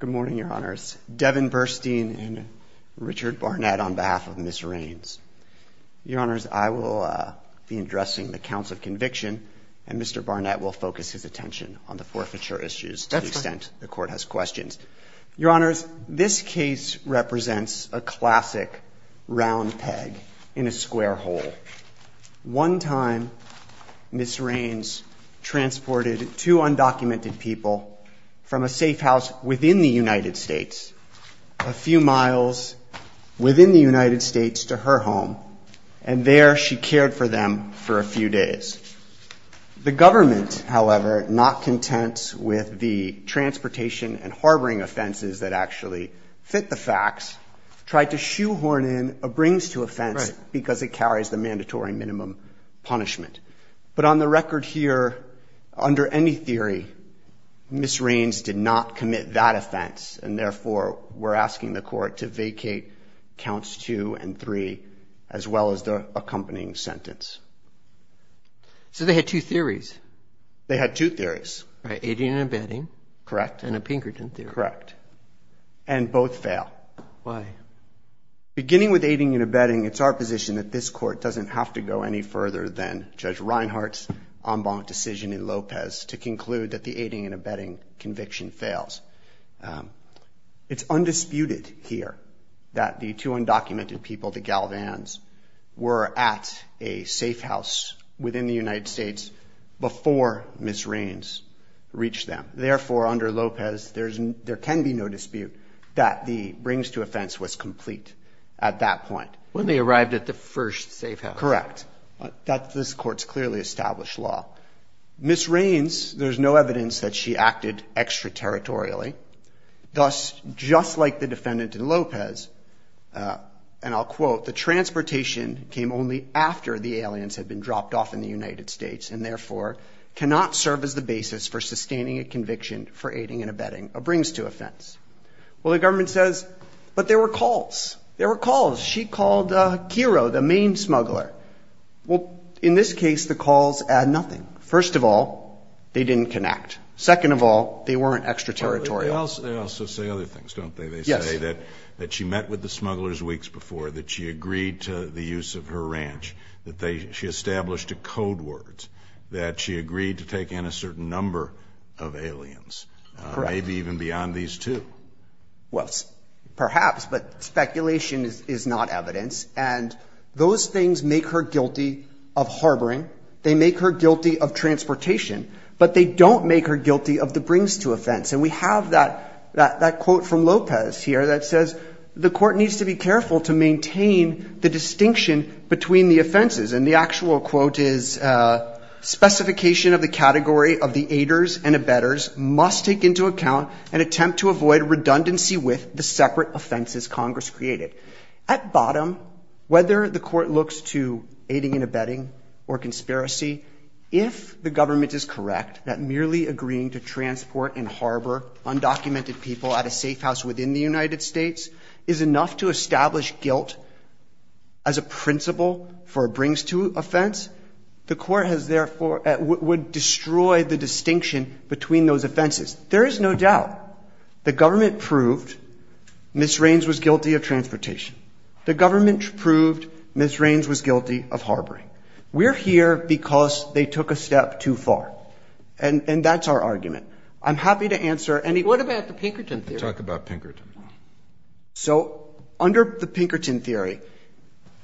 Good morning, your honors. Devin Burstein and Richard Barnett on behalf of Ms. Rains. Your honors, I will be addressing the counts of conviction and Mr. Barnett will focus his attention on the forfeiture issues to the extent the court has questions. Your honors, this case represents a classic round peg in a square hole. One time, Ms. Rains transported two undocumented people from a safe house within the United States, a few miles within the United States to her home, and there she cared for them for a few days. The government, however, not content with the transportation and harboring offenses that actually fit the facts, tried to shoehorn in a brings to offense because it carries the mandatory minimum punishment. But on the record here, under any theory, Ms. Rains did not commit that offense and therefore we're asking the court to vacate counts two and three as well as the accompanying sentence. So they had two theories. They had two theories. Right, aiding and abetting. Correct. And a Pinkerton theory. Correct. And both fail. Why? Beginning with aiding and abetting, it's our position that this court doesn't have to go any further than Judge Reinhart's en banc decision in Lopez to conclude that the aiding and abetting conviction fails. It's undisputed here that the two undocumented people, the Galvans, were at a safe house within the United States before Ms. Rains reached them. Therefore, under Lopez, there can be no dispute that the brings to offense was complete at that point. When they arrived at the first safe house. Correct. That this court's clearly established law. Ms. Rains, there's no evidence that she acted extraterritorially. Thus, just like the defendant in Lopez, and I'll quote, the transportation came only after the aliens had been dropped off in the United States and therefore cannot serve as the basis for sustaining a conviction for aiding and abetting a brings to offense. Well, the government says, but there were calls. There were calls. She called Kiro, the main smuggler. Well, in this case, the calls add nothing. First of all, they didn't connect. Second of all, they weren't extraterritorial. They also say other things, don't they? Yes. They say that she met with the smugglers weeks before, that she agreed to the use of her ranch, that she established a code word, that she agreed to take in a certain number of aliens. Correct. Maybe even beyond these two. Well, perhaps, but speculation is not evidence. And those things make her guilty of harboring. They make her guilty of transportation, but they don't make her guilty of the brings to offense. And we have that quote from Lopez here that says, the court needs to be careful to maintain the distinction between the offenses. And the actual quote is, specification of the category of the aiders and abettors must take into account and attempt to avoid redundancy with the separate offenses Congress created. At bottom, whether the court looks to aiding and abetting or conspiracy, if the government is correct that merely agreeing to transport and harbor undocumented people at a safe house within the United States is enough to establish guilt as a principle for brings to offense, the court would destroy the distinction between those offenses. There is no doubt the government proved Ms. Rains was guilty of transportation. The government proved Ms. Rains was guilty of harboring. We're here because they took a step too far. And that's our argument. I'm happy to answer any question. What about the Pinkerton theory? Talk about Pinkerton. So under the Pinkerton theory,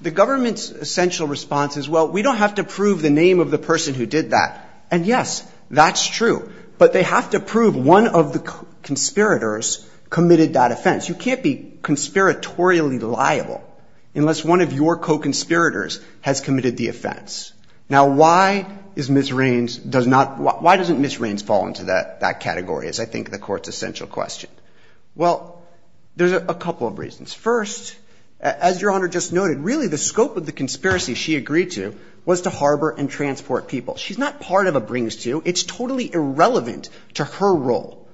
the government's essential response is, well, we don't have to prove the name of the person who did that. And, yes, that's true. But they have to prove one of the conspirators committed that offense. You can't be conspiratorially liable unless one of your co-conspirators has committed the offense. Now, why is Ms. Rains does not, why doesn't Ms. Rains fall into that category is, I think, the court's essential question. Well, there's a couple of reasons. First, as Your Honor just noted, really the scope of the conspiracy she agreed to was to harbor and transport people. She's not part of a brings to. It's totally irrelevant to her role.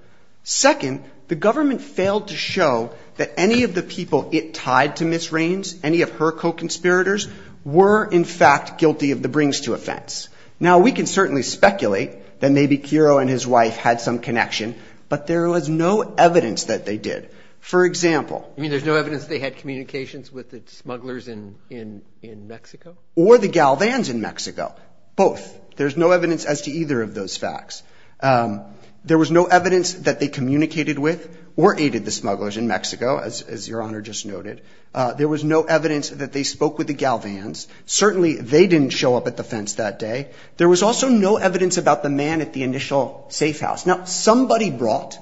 Second, the government failed to show that any of the people it tied to Ms. Rains, any of her co-conspirators, were, in fact, guilty of the brings to offense. Now, we can certainly speculate that maybe Quiro and his wife had some connection. But there was no evidence that they did. For example. I mean, there's no evidence they had communications with the smugglers in Mexico? Or the Galvans in Mexico. Both. There's no evidence as to either of those facts. There was no evidence that they communicated with or aided the smugglers in Mexico, as Your Honor just noted. There was no evidence that they spoke with the Galvans. Certainly, they didn't show up at the fence that day. There was also no evidence about the man at the initial safe house. Now, somebody brought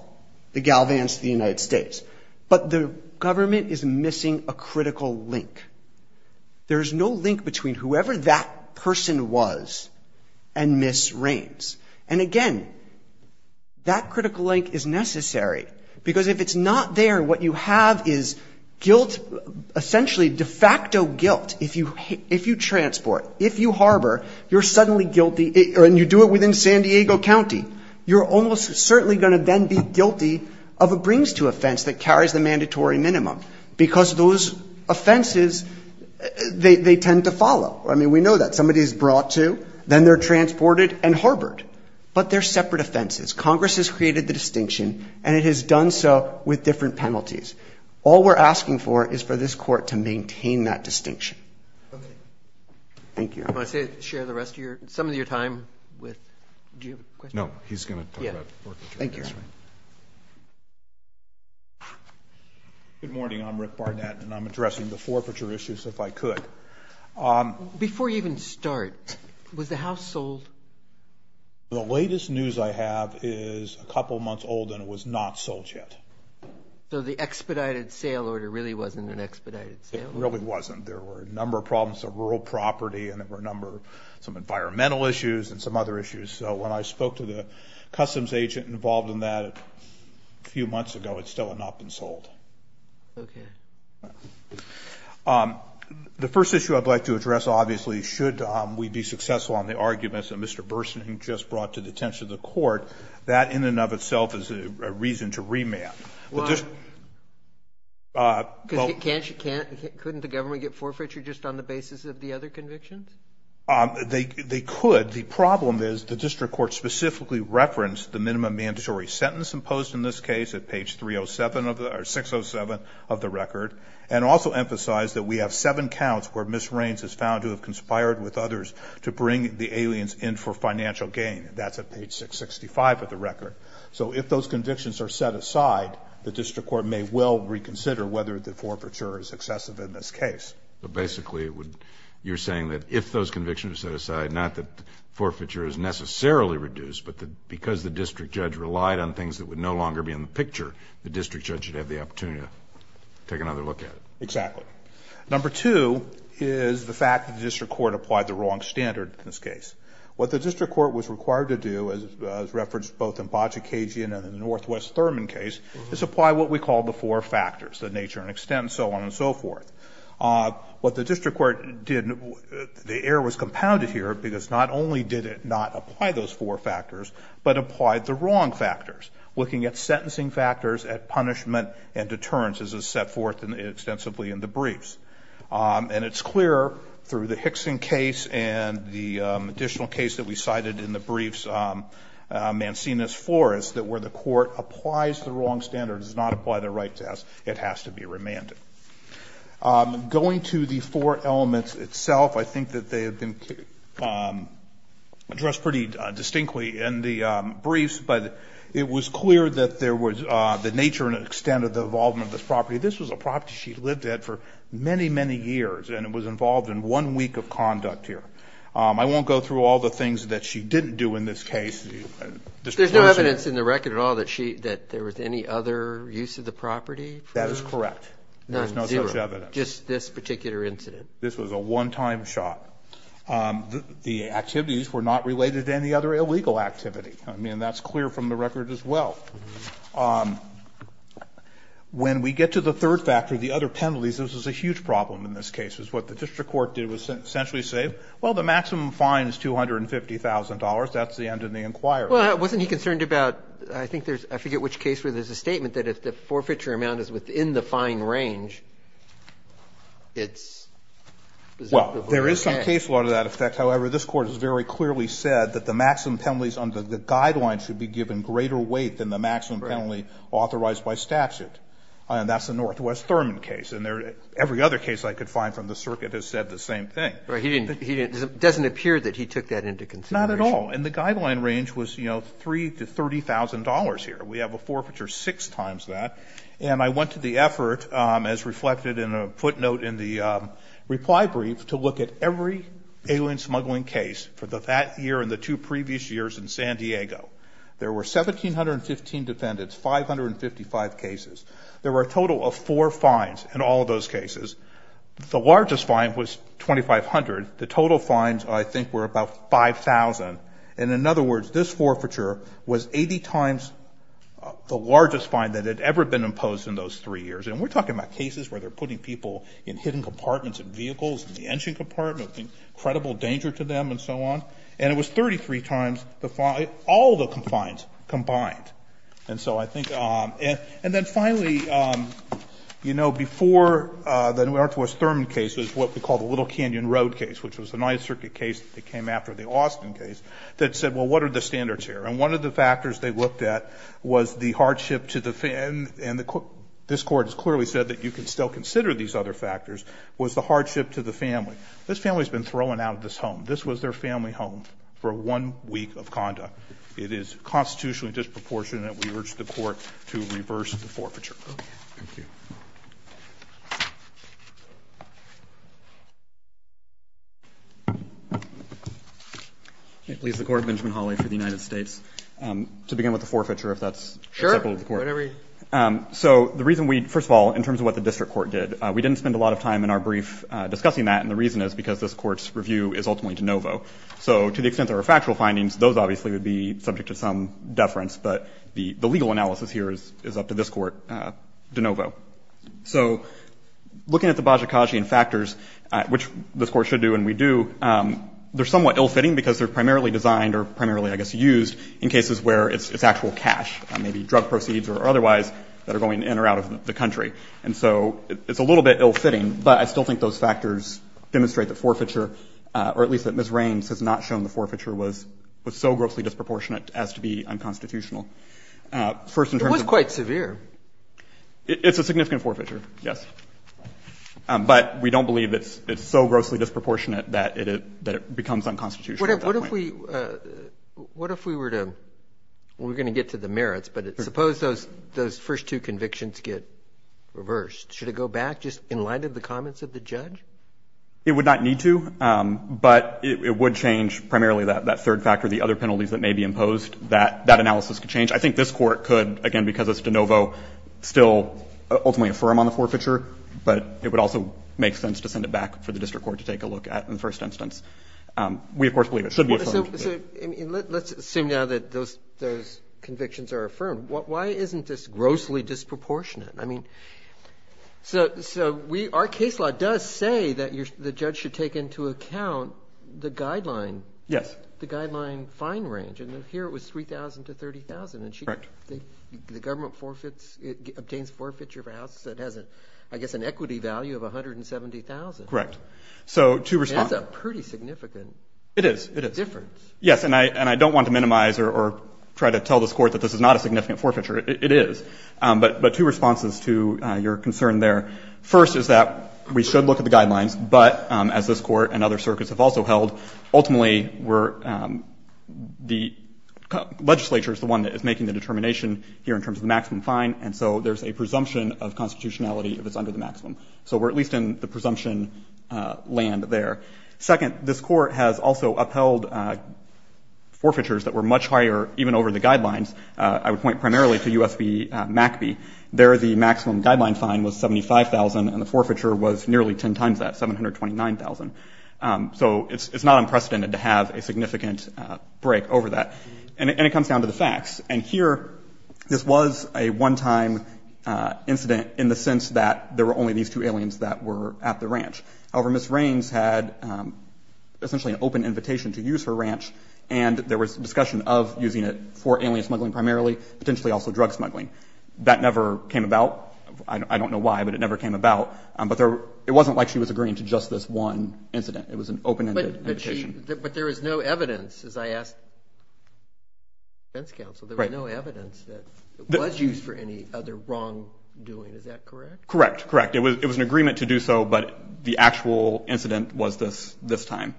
the Galvans to the United States. But the government is missing a critical link. There's no link between whoever that person was and Ms. Rains. And again, that critical link is necessary. Because if it's not there, what you have is guilt, essentially de facto guilt. If you transport, if you harbor, you're suddenly guilty, and you do it within San Diego County. You're almost certainly going to then be guilty of a brings to offense that carries the mandatory minimum. Because those offenses, they tend to follow. I mean, we know that. Somebody is brought to, then they're transported and harbored. But they're separate offenses. Congress has created the distinction, and it has done so with different penalties. All we're asking for is for this court to maintain that distinction. Thank you. I want to share the rest of your, some of your time with, do you have a question? No, he's going to talk about the work that you're doing. Thank you. Good morning. I'm Rick Barnett, and I'm addressing the forfeiture issues, if I could. Before you even start, was the house sold? The latest news I have is a couple months old, and it was not sold yet. So the expedited sale order really wasn't an expedited sale? It really wasn't. There were a number of problems of rural property, and there were a number of some environmental issues, and some other issues. So when I spoke to the customs agent involved in that a few months ago, it still had not been sold. Okay. The first issue I'd like to address, obviously, should we be successful on the arguments that Mr. Bersening just brought to the attention of the court, that in and of itself is a reason to remand. Well, couldn't the government get forfeiture just on the basis of the other convictions? They could. The problem is the district court specifically referenced the minimum mandatory sentence imposed in this case at page 607 of the record, and also emphasized that we have seven counts where misreigns is found to have conspired with others to bring the aliens in for financial gain. That's at page 665 of the record. So if those convictions are set aside, the district court may well reconsider whether the forfeiture is excessive in this case. But basically, you're saying that if those convictions are set aside, not that forfeiture is necessarily reduced, but that because the district judge relied on things that would no longer be in the picture, the district judge should have the opportunity to take another look at it. Exactly. Number two is the fact that the district court applied the wrong standard in this case. What the district court was required to do, as referenced both in Bocciacchian and in the Northwest Thurman case, is apply what we call the four factors, the nature and extent, so on and so forth. What the district court did, the error was compounded here because not only did it not apply those four factors, but applied the wrong factors, looking at sentencing factors, at punishment and deterrence, as is set forth extensively in the briefs. And it's clear through the Hickson case and the additional case that we cited in the briefs, Mancini's forest, that where the court applies the wrong standard, does not apply the right test, it has to be remanded. Going to the four elements itself, I think that they have been addressed pretty distinctly in the briefs, but it was clear that there was the nature and extent of the involvement of this property. This was a property she lived at for many, many years, and it was involved in one week of conduct here. I won't go through all the things that she didn't do in this case. There's no evidence in the record at all that there was any other use of the property? That is correct. None? Zero. Just this particular incident. This was a one-time shot. The activities were not related to any other illegal activity. I mean, that's clear from the record as well. When we get to the third factor, the other penalties, this was a huge problem in this case. What the district court did was essentially say, well, the maximum fine is $250,000. That's the end of the inquiry. Well, wasn't he concerned about, I think there's, I forget which case, where there's a statement that if the forfeiture amount is within the fine range, it's presumptive of a case. Well, there is some case law to that effect. However, this Court has very clearly said that the maximum penalties under the guidelines should be given greater weight than the maximum penalty authorized by statute. And that's the Northwest Thurman case. And every other case I could find from the circuit has said the same thing. Right. He didn't, it doesn't appear that he took that into consideration. Not at all. And the guideline range was, you know, $3,000 to $30,000 here. We have a forfeiture six times that. And I went to the effort, as reflected in a footnote in the reply brief, to look at every alien smuggling case for that year and the two previous years in San Diego. There were 1,715 defendants, 555 cases. There were a total of four fines in all of those cases. The largest fine was $2,500. The total fines, I think, were about $5,000. And in other words, this forfeiture was 80 times the largest fine that had ever been imposed in those three years. And we're talking about cases where they're putting people in hidden compartments in vehicles, in the engine compartment, incredible danger to them, and so on. And it was 33 times the fine, all the fines combined. And so I think, and then finally, you know, before the Northwest Thurman case is what we call the Little Canyon Road case, which was a Ninth Circuit case that came after the Austin case, that said, well, what are the standards here? And one of the factors they looked at was the hardship to the family. And this court has clearly said that you can still consider these other factors, was the hardship to the family. This family's been thrown out of this home. This was their family home for one week of conduct. It is constitutionally disproportionate, and we urge the court to reverse the forfeiture. Okay. Thank you. Please, the Court, Benjamin Hawley for the United States. To begin with the forfeiture, if that's acceptable to the court. Sure, whatever you. So the reason we, first of all, in terms of what the district court did, we didn't spend a lot of time in our brief discussing that, and the reason is because this court's review is ultimately de novo. So to the extent there were factual findings, those obviously would be subject to some reference, but the legal analysis here is up to this court de novo. So looking at the Bajikashian factors, which this court should do and we do, they're somewhat ill-fitting because they're primarily designed or primarily, I guess, used in cases where it's actual cash, maybe drug proceeds or otherwise, that are going in or out of the country. And so it's a little bit ill-fitting, but I still think those factors demonstrate the forfeiture, or at least that Ms. Raines has not shown the forfeiture was so grossly disproportionate as to be unconstitutional. First, in terms of the... It was quite severe. It's a significant forfeiture, yes. But we don't believe it's so grossly disproportionate that it becomes unconstitutional at that point. What if we were to, we're going to get to the merits, but suppose those first two convictions get reversed. Should it go back just in light of the comments of the judge? It would not need to, but it would change primarily that third factor, the other penalties that may be imposed, that analysis could change. I think this Court could, again, because it's de novo, still ultimately affirm on the forfeiture, but it would also make sense to send it back for the district court to take a look at in the first instance. We, of course, believe it should be affirmed. So let's assume now that those convictions are affirmed. Why isn't this grossly disproportionate? I mean, so we, our case law does say that the judge should take into account the guideline. Yes. But if you look at the guideline fine range, and here it was $3,000 to $30,000, and the government forfeits, it obtains forfeiture of a house that has, I guess, an equity value of $170,000. Correct. So, two responses. That's a pretty significant difference. It is. Yes. And I don't want to minimize or try to tell this Court that this is not a significant forfeiture. It is. But two responses to your concern there. First is that we should look at the guidelines, but as this Court and other circuits have also held, ultimately, we're, the legislature is the one that is making the determination here in terms of the maximum fine. And so there's a presumption of constitutionality if it's under the maximum. So we're at least in the presumption land there. Second, this Court has also upheld forfeitures that were much higher even over the guidelines. I would point primarily to U.S. v. MACB. There the maximum guideline fine was $75,000, and the forfeiture was nearly 10 times that, $729,000. So it's not unprecedented to have a significant break over that. And it comes down to the facts. And here, this was a one-time incident in the sense that there were only these two aliens that were at the ranch. However, Ms. Raines had essentially an open invitation to use her ranch, and there was discussion of using it for alien smuggling primarily, potentially also drug smuggling. That never came about. I don't know why, but it never came about. But it wasn't like she was agreeing to just this one incident. It was an open-ended invitation. But there was no evidence, as I asked the defense counsel. There was no evidence that it was used for any other wrongdoing. Is that correct? Correct, correct. It was an agreement to do so, but the actual incident was this time.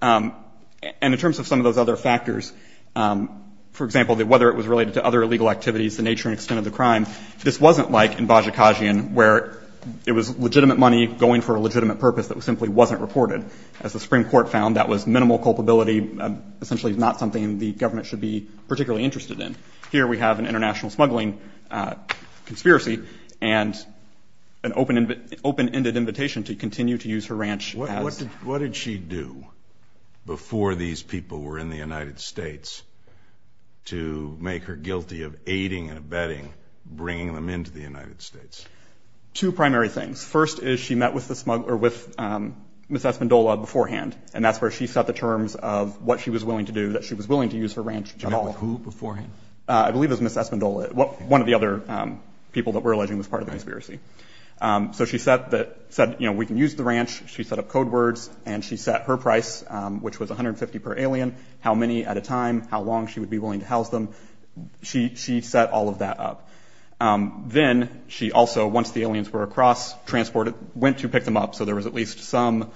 And in terms of some of those other factors, for example, whether it was related to other illegal activities, the nature and extent of the crime, this wasn't like in Bajikashian where it was legitimate money going for a legitimate purpose that simply wasn't reported. As the Supreme Court found, that was minimal culpability, essentially not something the government should be particularly interested in. Here, we have an international smuggling conspiracy and an open-ended invitation to continue to use her ranch as... What did she do before these people were in the United States to make her guilty of aiding and abetting bringing them into the United States? Two primary things. First is she met with the smuggler, with Ms. Esmondola beforehand. And that's where she set the terms of what she was willing to do, that she was willing to use her ranch at all. She met with who beforehand? I believe it was Ms. Esmondola, one of the other people that we're alleging was part of the conspiracy. So she said, you know, we can use the ranch. She set up code words and she set her price, which was $150 per alien, how many at a time, how long she would be willing to house them. She set all of that up. Then she also, once the aliens were across transported, went to pick them up. So there was at least some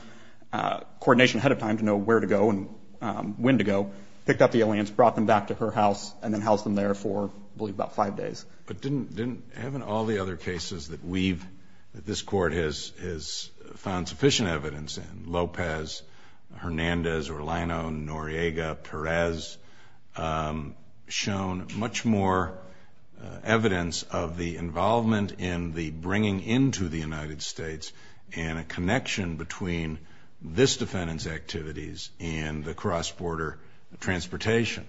coordination ahead of time to know where to go and when to go. Picked up the aliens, brought them back to her house, and then housed them there for, I believe, about five days. But didn't, haven't all the other cases that we've, that this court has found sufficient evidence in, Lopez, Hernandez, Orlano, Noriega, Perez, shown much more evidence of the involvement in the bringing into the United States and a connection between this defendant's activities and the cross-border transportation?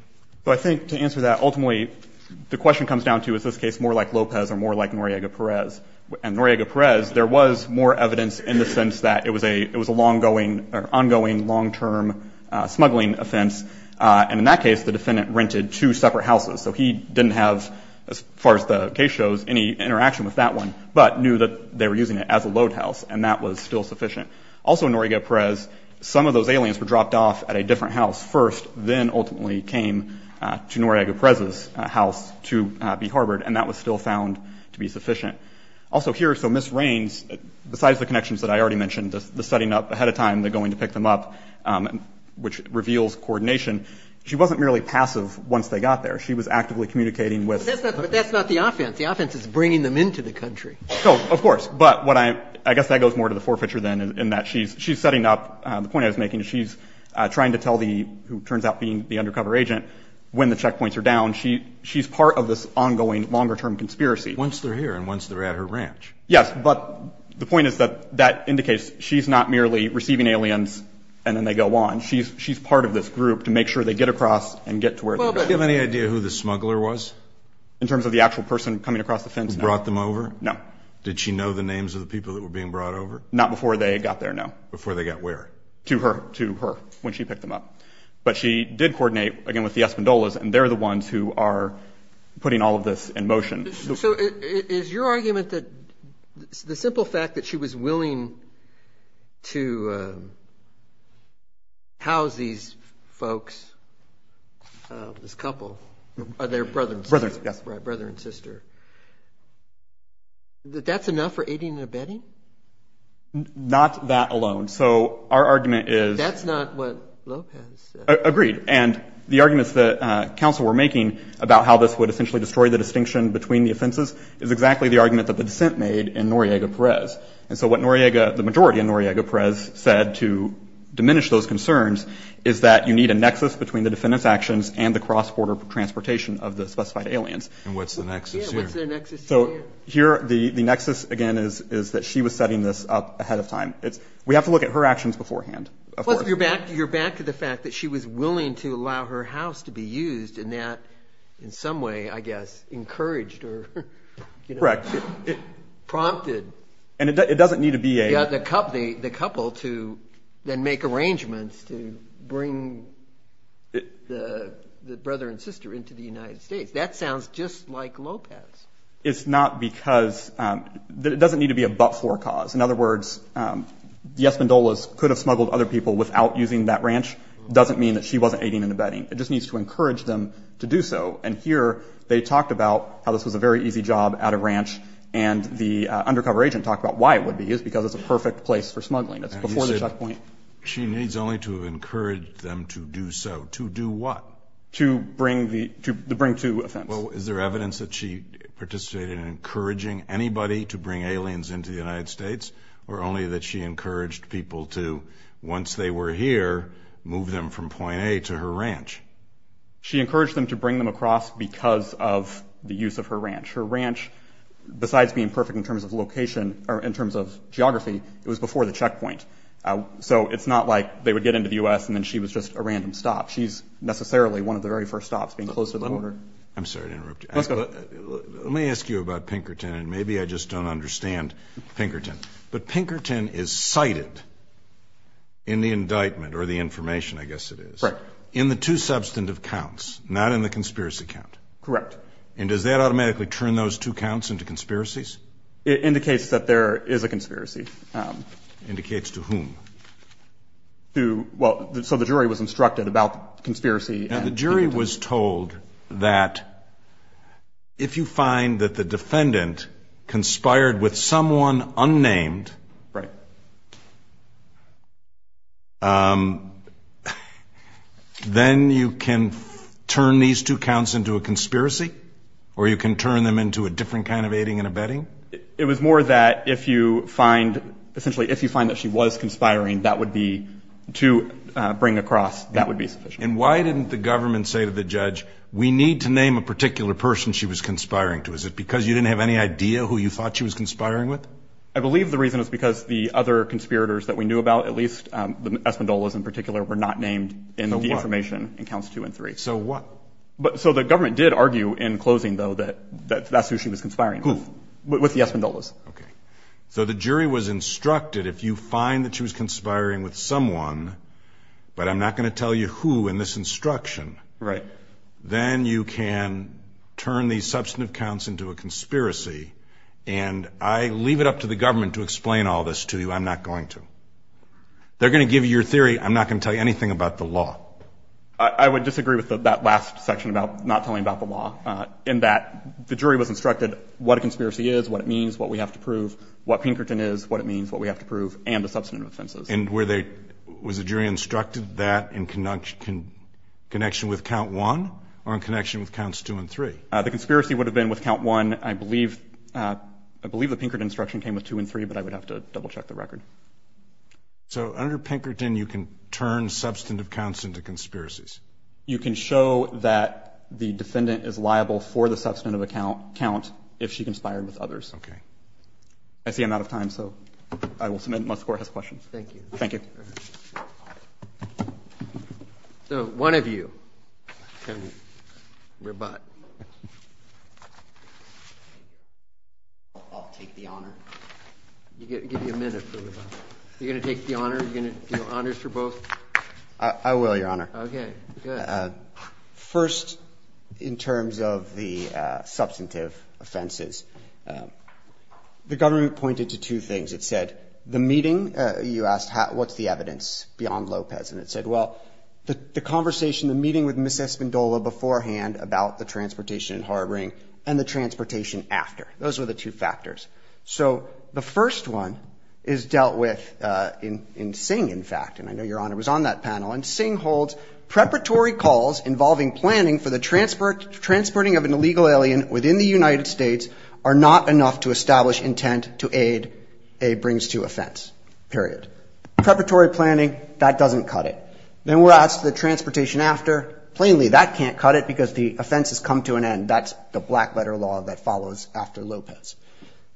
Well, I think to answer that, ultimately, the question comes down to, is this case more like Lopez or more like Noriega Perez? And Noriega Perez, there was more evidence in the sense that it was a, it was a long-going, or ongoing, long-term smuggling offense. And in that case, the defendant rented two separate houses. So he didn't have, as far as the case shows, any interaction with that one, but knew that they were using it as a load house. And that was still sufficient. Also Noriega Perez, some of those aliens were dropped off at a different house first, then ultimately came to Noriega Perez's house to be harbored. And that was still found to be sufficient. Also here, so Ms. Rains, besides the connections that I already mentioned, the setting up ahead of time, they're going to pick them up, which reveals coordination. She wasn't merely passive once they got there. She was actively communicating with. But that's not the offense. The offense is bringing them into the country. So, of course. But what I, I guess that goes more to the forfeiture then, in that she's, she's setting up, the point I was making is she's trying to tell the, who turns out being the undercover agent, when the checkpoints are down. She, she's part of this ongoing, longer-term conspiracy. Once they're here and once they're at her ranch. Yes. But the point is that that indicates she's not merely receiving aliens and then they go on. She's, she's part of this group to make sure they get across and get to where they're going. Do you have any idea who the smuggler was? In terms of the actual person coming across the fence? Who brought them over? No. Did she know the names of the people that were being brought over? Not before they got there, no. Before they got where? To her, to her, when she picked them up. But she did coordinate again with the Escondolas and they're the ones who are putting all of this in motion. So is your argument that the simple fact that she was willing to house these folks, this couple, or their brother and sister, right, brother and sister, that that's enough for aiding and abetting? Not that alone. So our argument is. That's not what Lopez said. Agreed. And the arguments that counsel were making about how this would essentially destroy the offenses is exactly the argument that the dissent made in Noriega Perez. And so what Noriega, the majority in Noriega Perez, said to diminish those concerns is that you need a nexus between the defendant's actions and the cross-border transportation of the specified aliens. And what's the nexus here? So here, the nexus again is that she was setting this up ahead of time. It's, we have to look at her actions beforehand. Plus you're back, you're back to the fact that she was willing to allow her house to be used in that, in some way, I guess, encouraged or, you know, prompted. And it doesn't need to be a. Yeah, the couple, the couple to then make arrangements to bring the brother and sister into the United States. That sounds just like Lopez. It's not because, it doesn't need to be a but-for cause. In other words, the Espindolas could have smuggled other people without using that ranch, doesn't mean that she wasn't aiding and abetting. It just needs to encourage them to do so. And here, they talked about how this was a very easy job at a ranch and the undercover agent talked about why it would be used, because it's a perfect place for smuggling. That's before the checkpoint. She needs only to encourage them to do so. To do what? To bring the, to bring to offense. Well, is there evidence that she participated in encouraging anybody to bring aliens into the United States or only that she encouraged people to, once they were here, move them from point A to her ranch? She encouraged them to bring them across because of the use of her ranch. Her ranch, besides being perfect in terms of location or in terms of geography, it was before the checkpoint. So it's not like they would get into the U.S. and then she was just a random stop. She's necessarily one of the very first stops being close to the border. I'm sorry to interrupt you. Let's go. Let me ask you about Pinkerton, and maybe I just don't understand Pinkerton, but Pinkerton is cited in the indictment or the information, I guess it is. Right. In the two substantive counts, not in the conspiracy count. Correct. And does that automatically turn those two counts into conspiracies? It indicates that there is a conspiracy. Indicates to whom? To, well, so the jury was instructed about conspiracy. Now, the jury was told that if you find that the defendant conspired with someone then you can turn these two counts into a conspiracy or you can turn them into a different kind of aiding and abetting. It was more that if you find, essentially, if you find that she was conspiring, that would be to bring across, that would be sufficient. And why didn't the government say to the judge, we need to name a particular person she was conspiring to? Is it because you didn't have any idea who you thought she was conspiring with? I believe the reason is because the other conspirators that we knew about, at least the Espindolas in particular, were not named in the information in counts two and three. So what? So the government did argue in closing, though, that that's who she was conspiring with, with the Espindolas. Okay. So the jury was instructed if you find that she was conspiring with someone, but I'm not going to tell you who in this instruction, then you can turn these substantive counts into a conspiracy. And I leave it up to the government to explain all this to you. I'm not going to. They're going to give you your theory. I'm not going to tell you anything about the law. I would disagree with that last section about not telling about the law, in that the jury was instructed what a conspiracy is, what it means, what we have to prove, what Pinkerton is, what it means, what we have to prove, and the substantive offenses. And were they, was the jury instructed that in connection with count one or in connection with counts two and three? The conspiracy would have been with count one. I believe, I believe the Pinkerton instruction came with two and three, but I would have to double check the record. So under Pinkerton, you can turn substantive counts into conspiracies. You can show that the defendant is liable for the substantive account count if she conspired with others. Okay. I see I'm out of time, so I will submit unless the court has a question. Thank you. Thank you. So one of you can rebut. I'll take the honor. You get to give you a minute for rebut. You're going to take the honor? You're going to do honors for both? I will, Your Honor. Okay, good. First, in terms of the substantive offenses, the government pointed to two things. It said, the meeting, you asked, what's the evidence beyond Lopez? And it said, well, the conversation, the meeting with Ms. Espindola beforehand about the transportation and harboring and the transportation after. Those were the two factors. So the first one is dealt with in Singh, in fact, and I know Your Honor was on that panel. And Singh holds, preparatory calls involving planning for the transporting of an illegal alien within the United States are not enough to establish intent to aid a brings to offense, period. Preparatory planning, that doesn't cut it. Then we're asked the transportation after, plainly, that can't cut it because the offense has come to an end. That's the black letter law that follows after Lopez.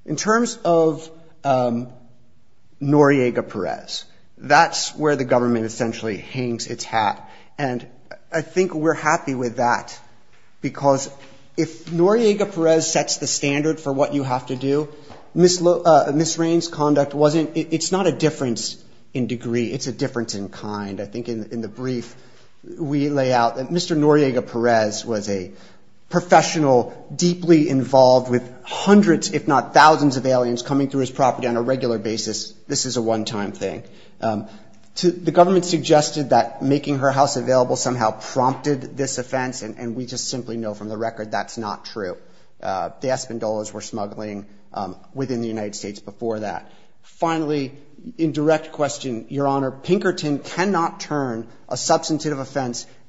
In terms of Noriega-Perez, that's where the government essentially hangs its hat. And I think we're happy with that because if Noriega-Perez sets the standard for what you have to do, misreigns conduct wasn't, it's not a difference in degree. It's a difference in kind. I think in the brief, we lay out that Mr. Noriega-Perez was a professional, deeply involved with hundreds, if not thousands of aliens coming through his property on a regular basis. This is a one-time thing. The government suggested that making her house available somehow prompted this offense. And we just simply know from the record that's not true. The Espindolas were smuggling within the United States before that. Finally, in direct question, Your Honor, Pinkerton cannot turn a substantive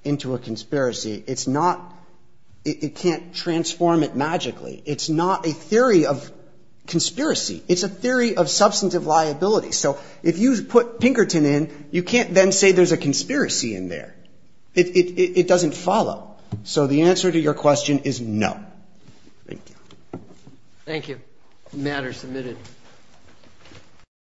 It's not, it can't transform it magically. It's not a theory of conspiracy. It's a theory of substantive liability. So if you put Pinkerton in, you can't then say there's a conspiracy in there. It doesn't follow. So the answer to your question is no. Thank you. Thank you. Matter submitted.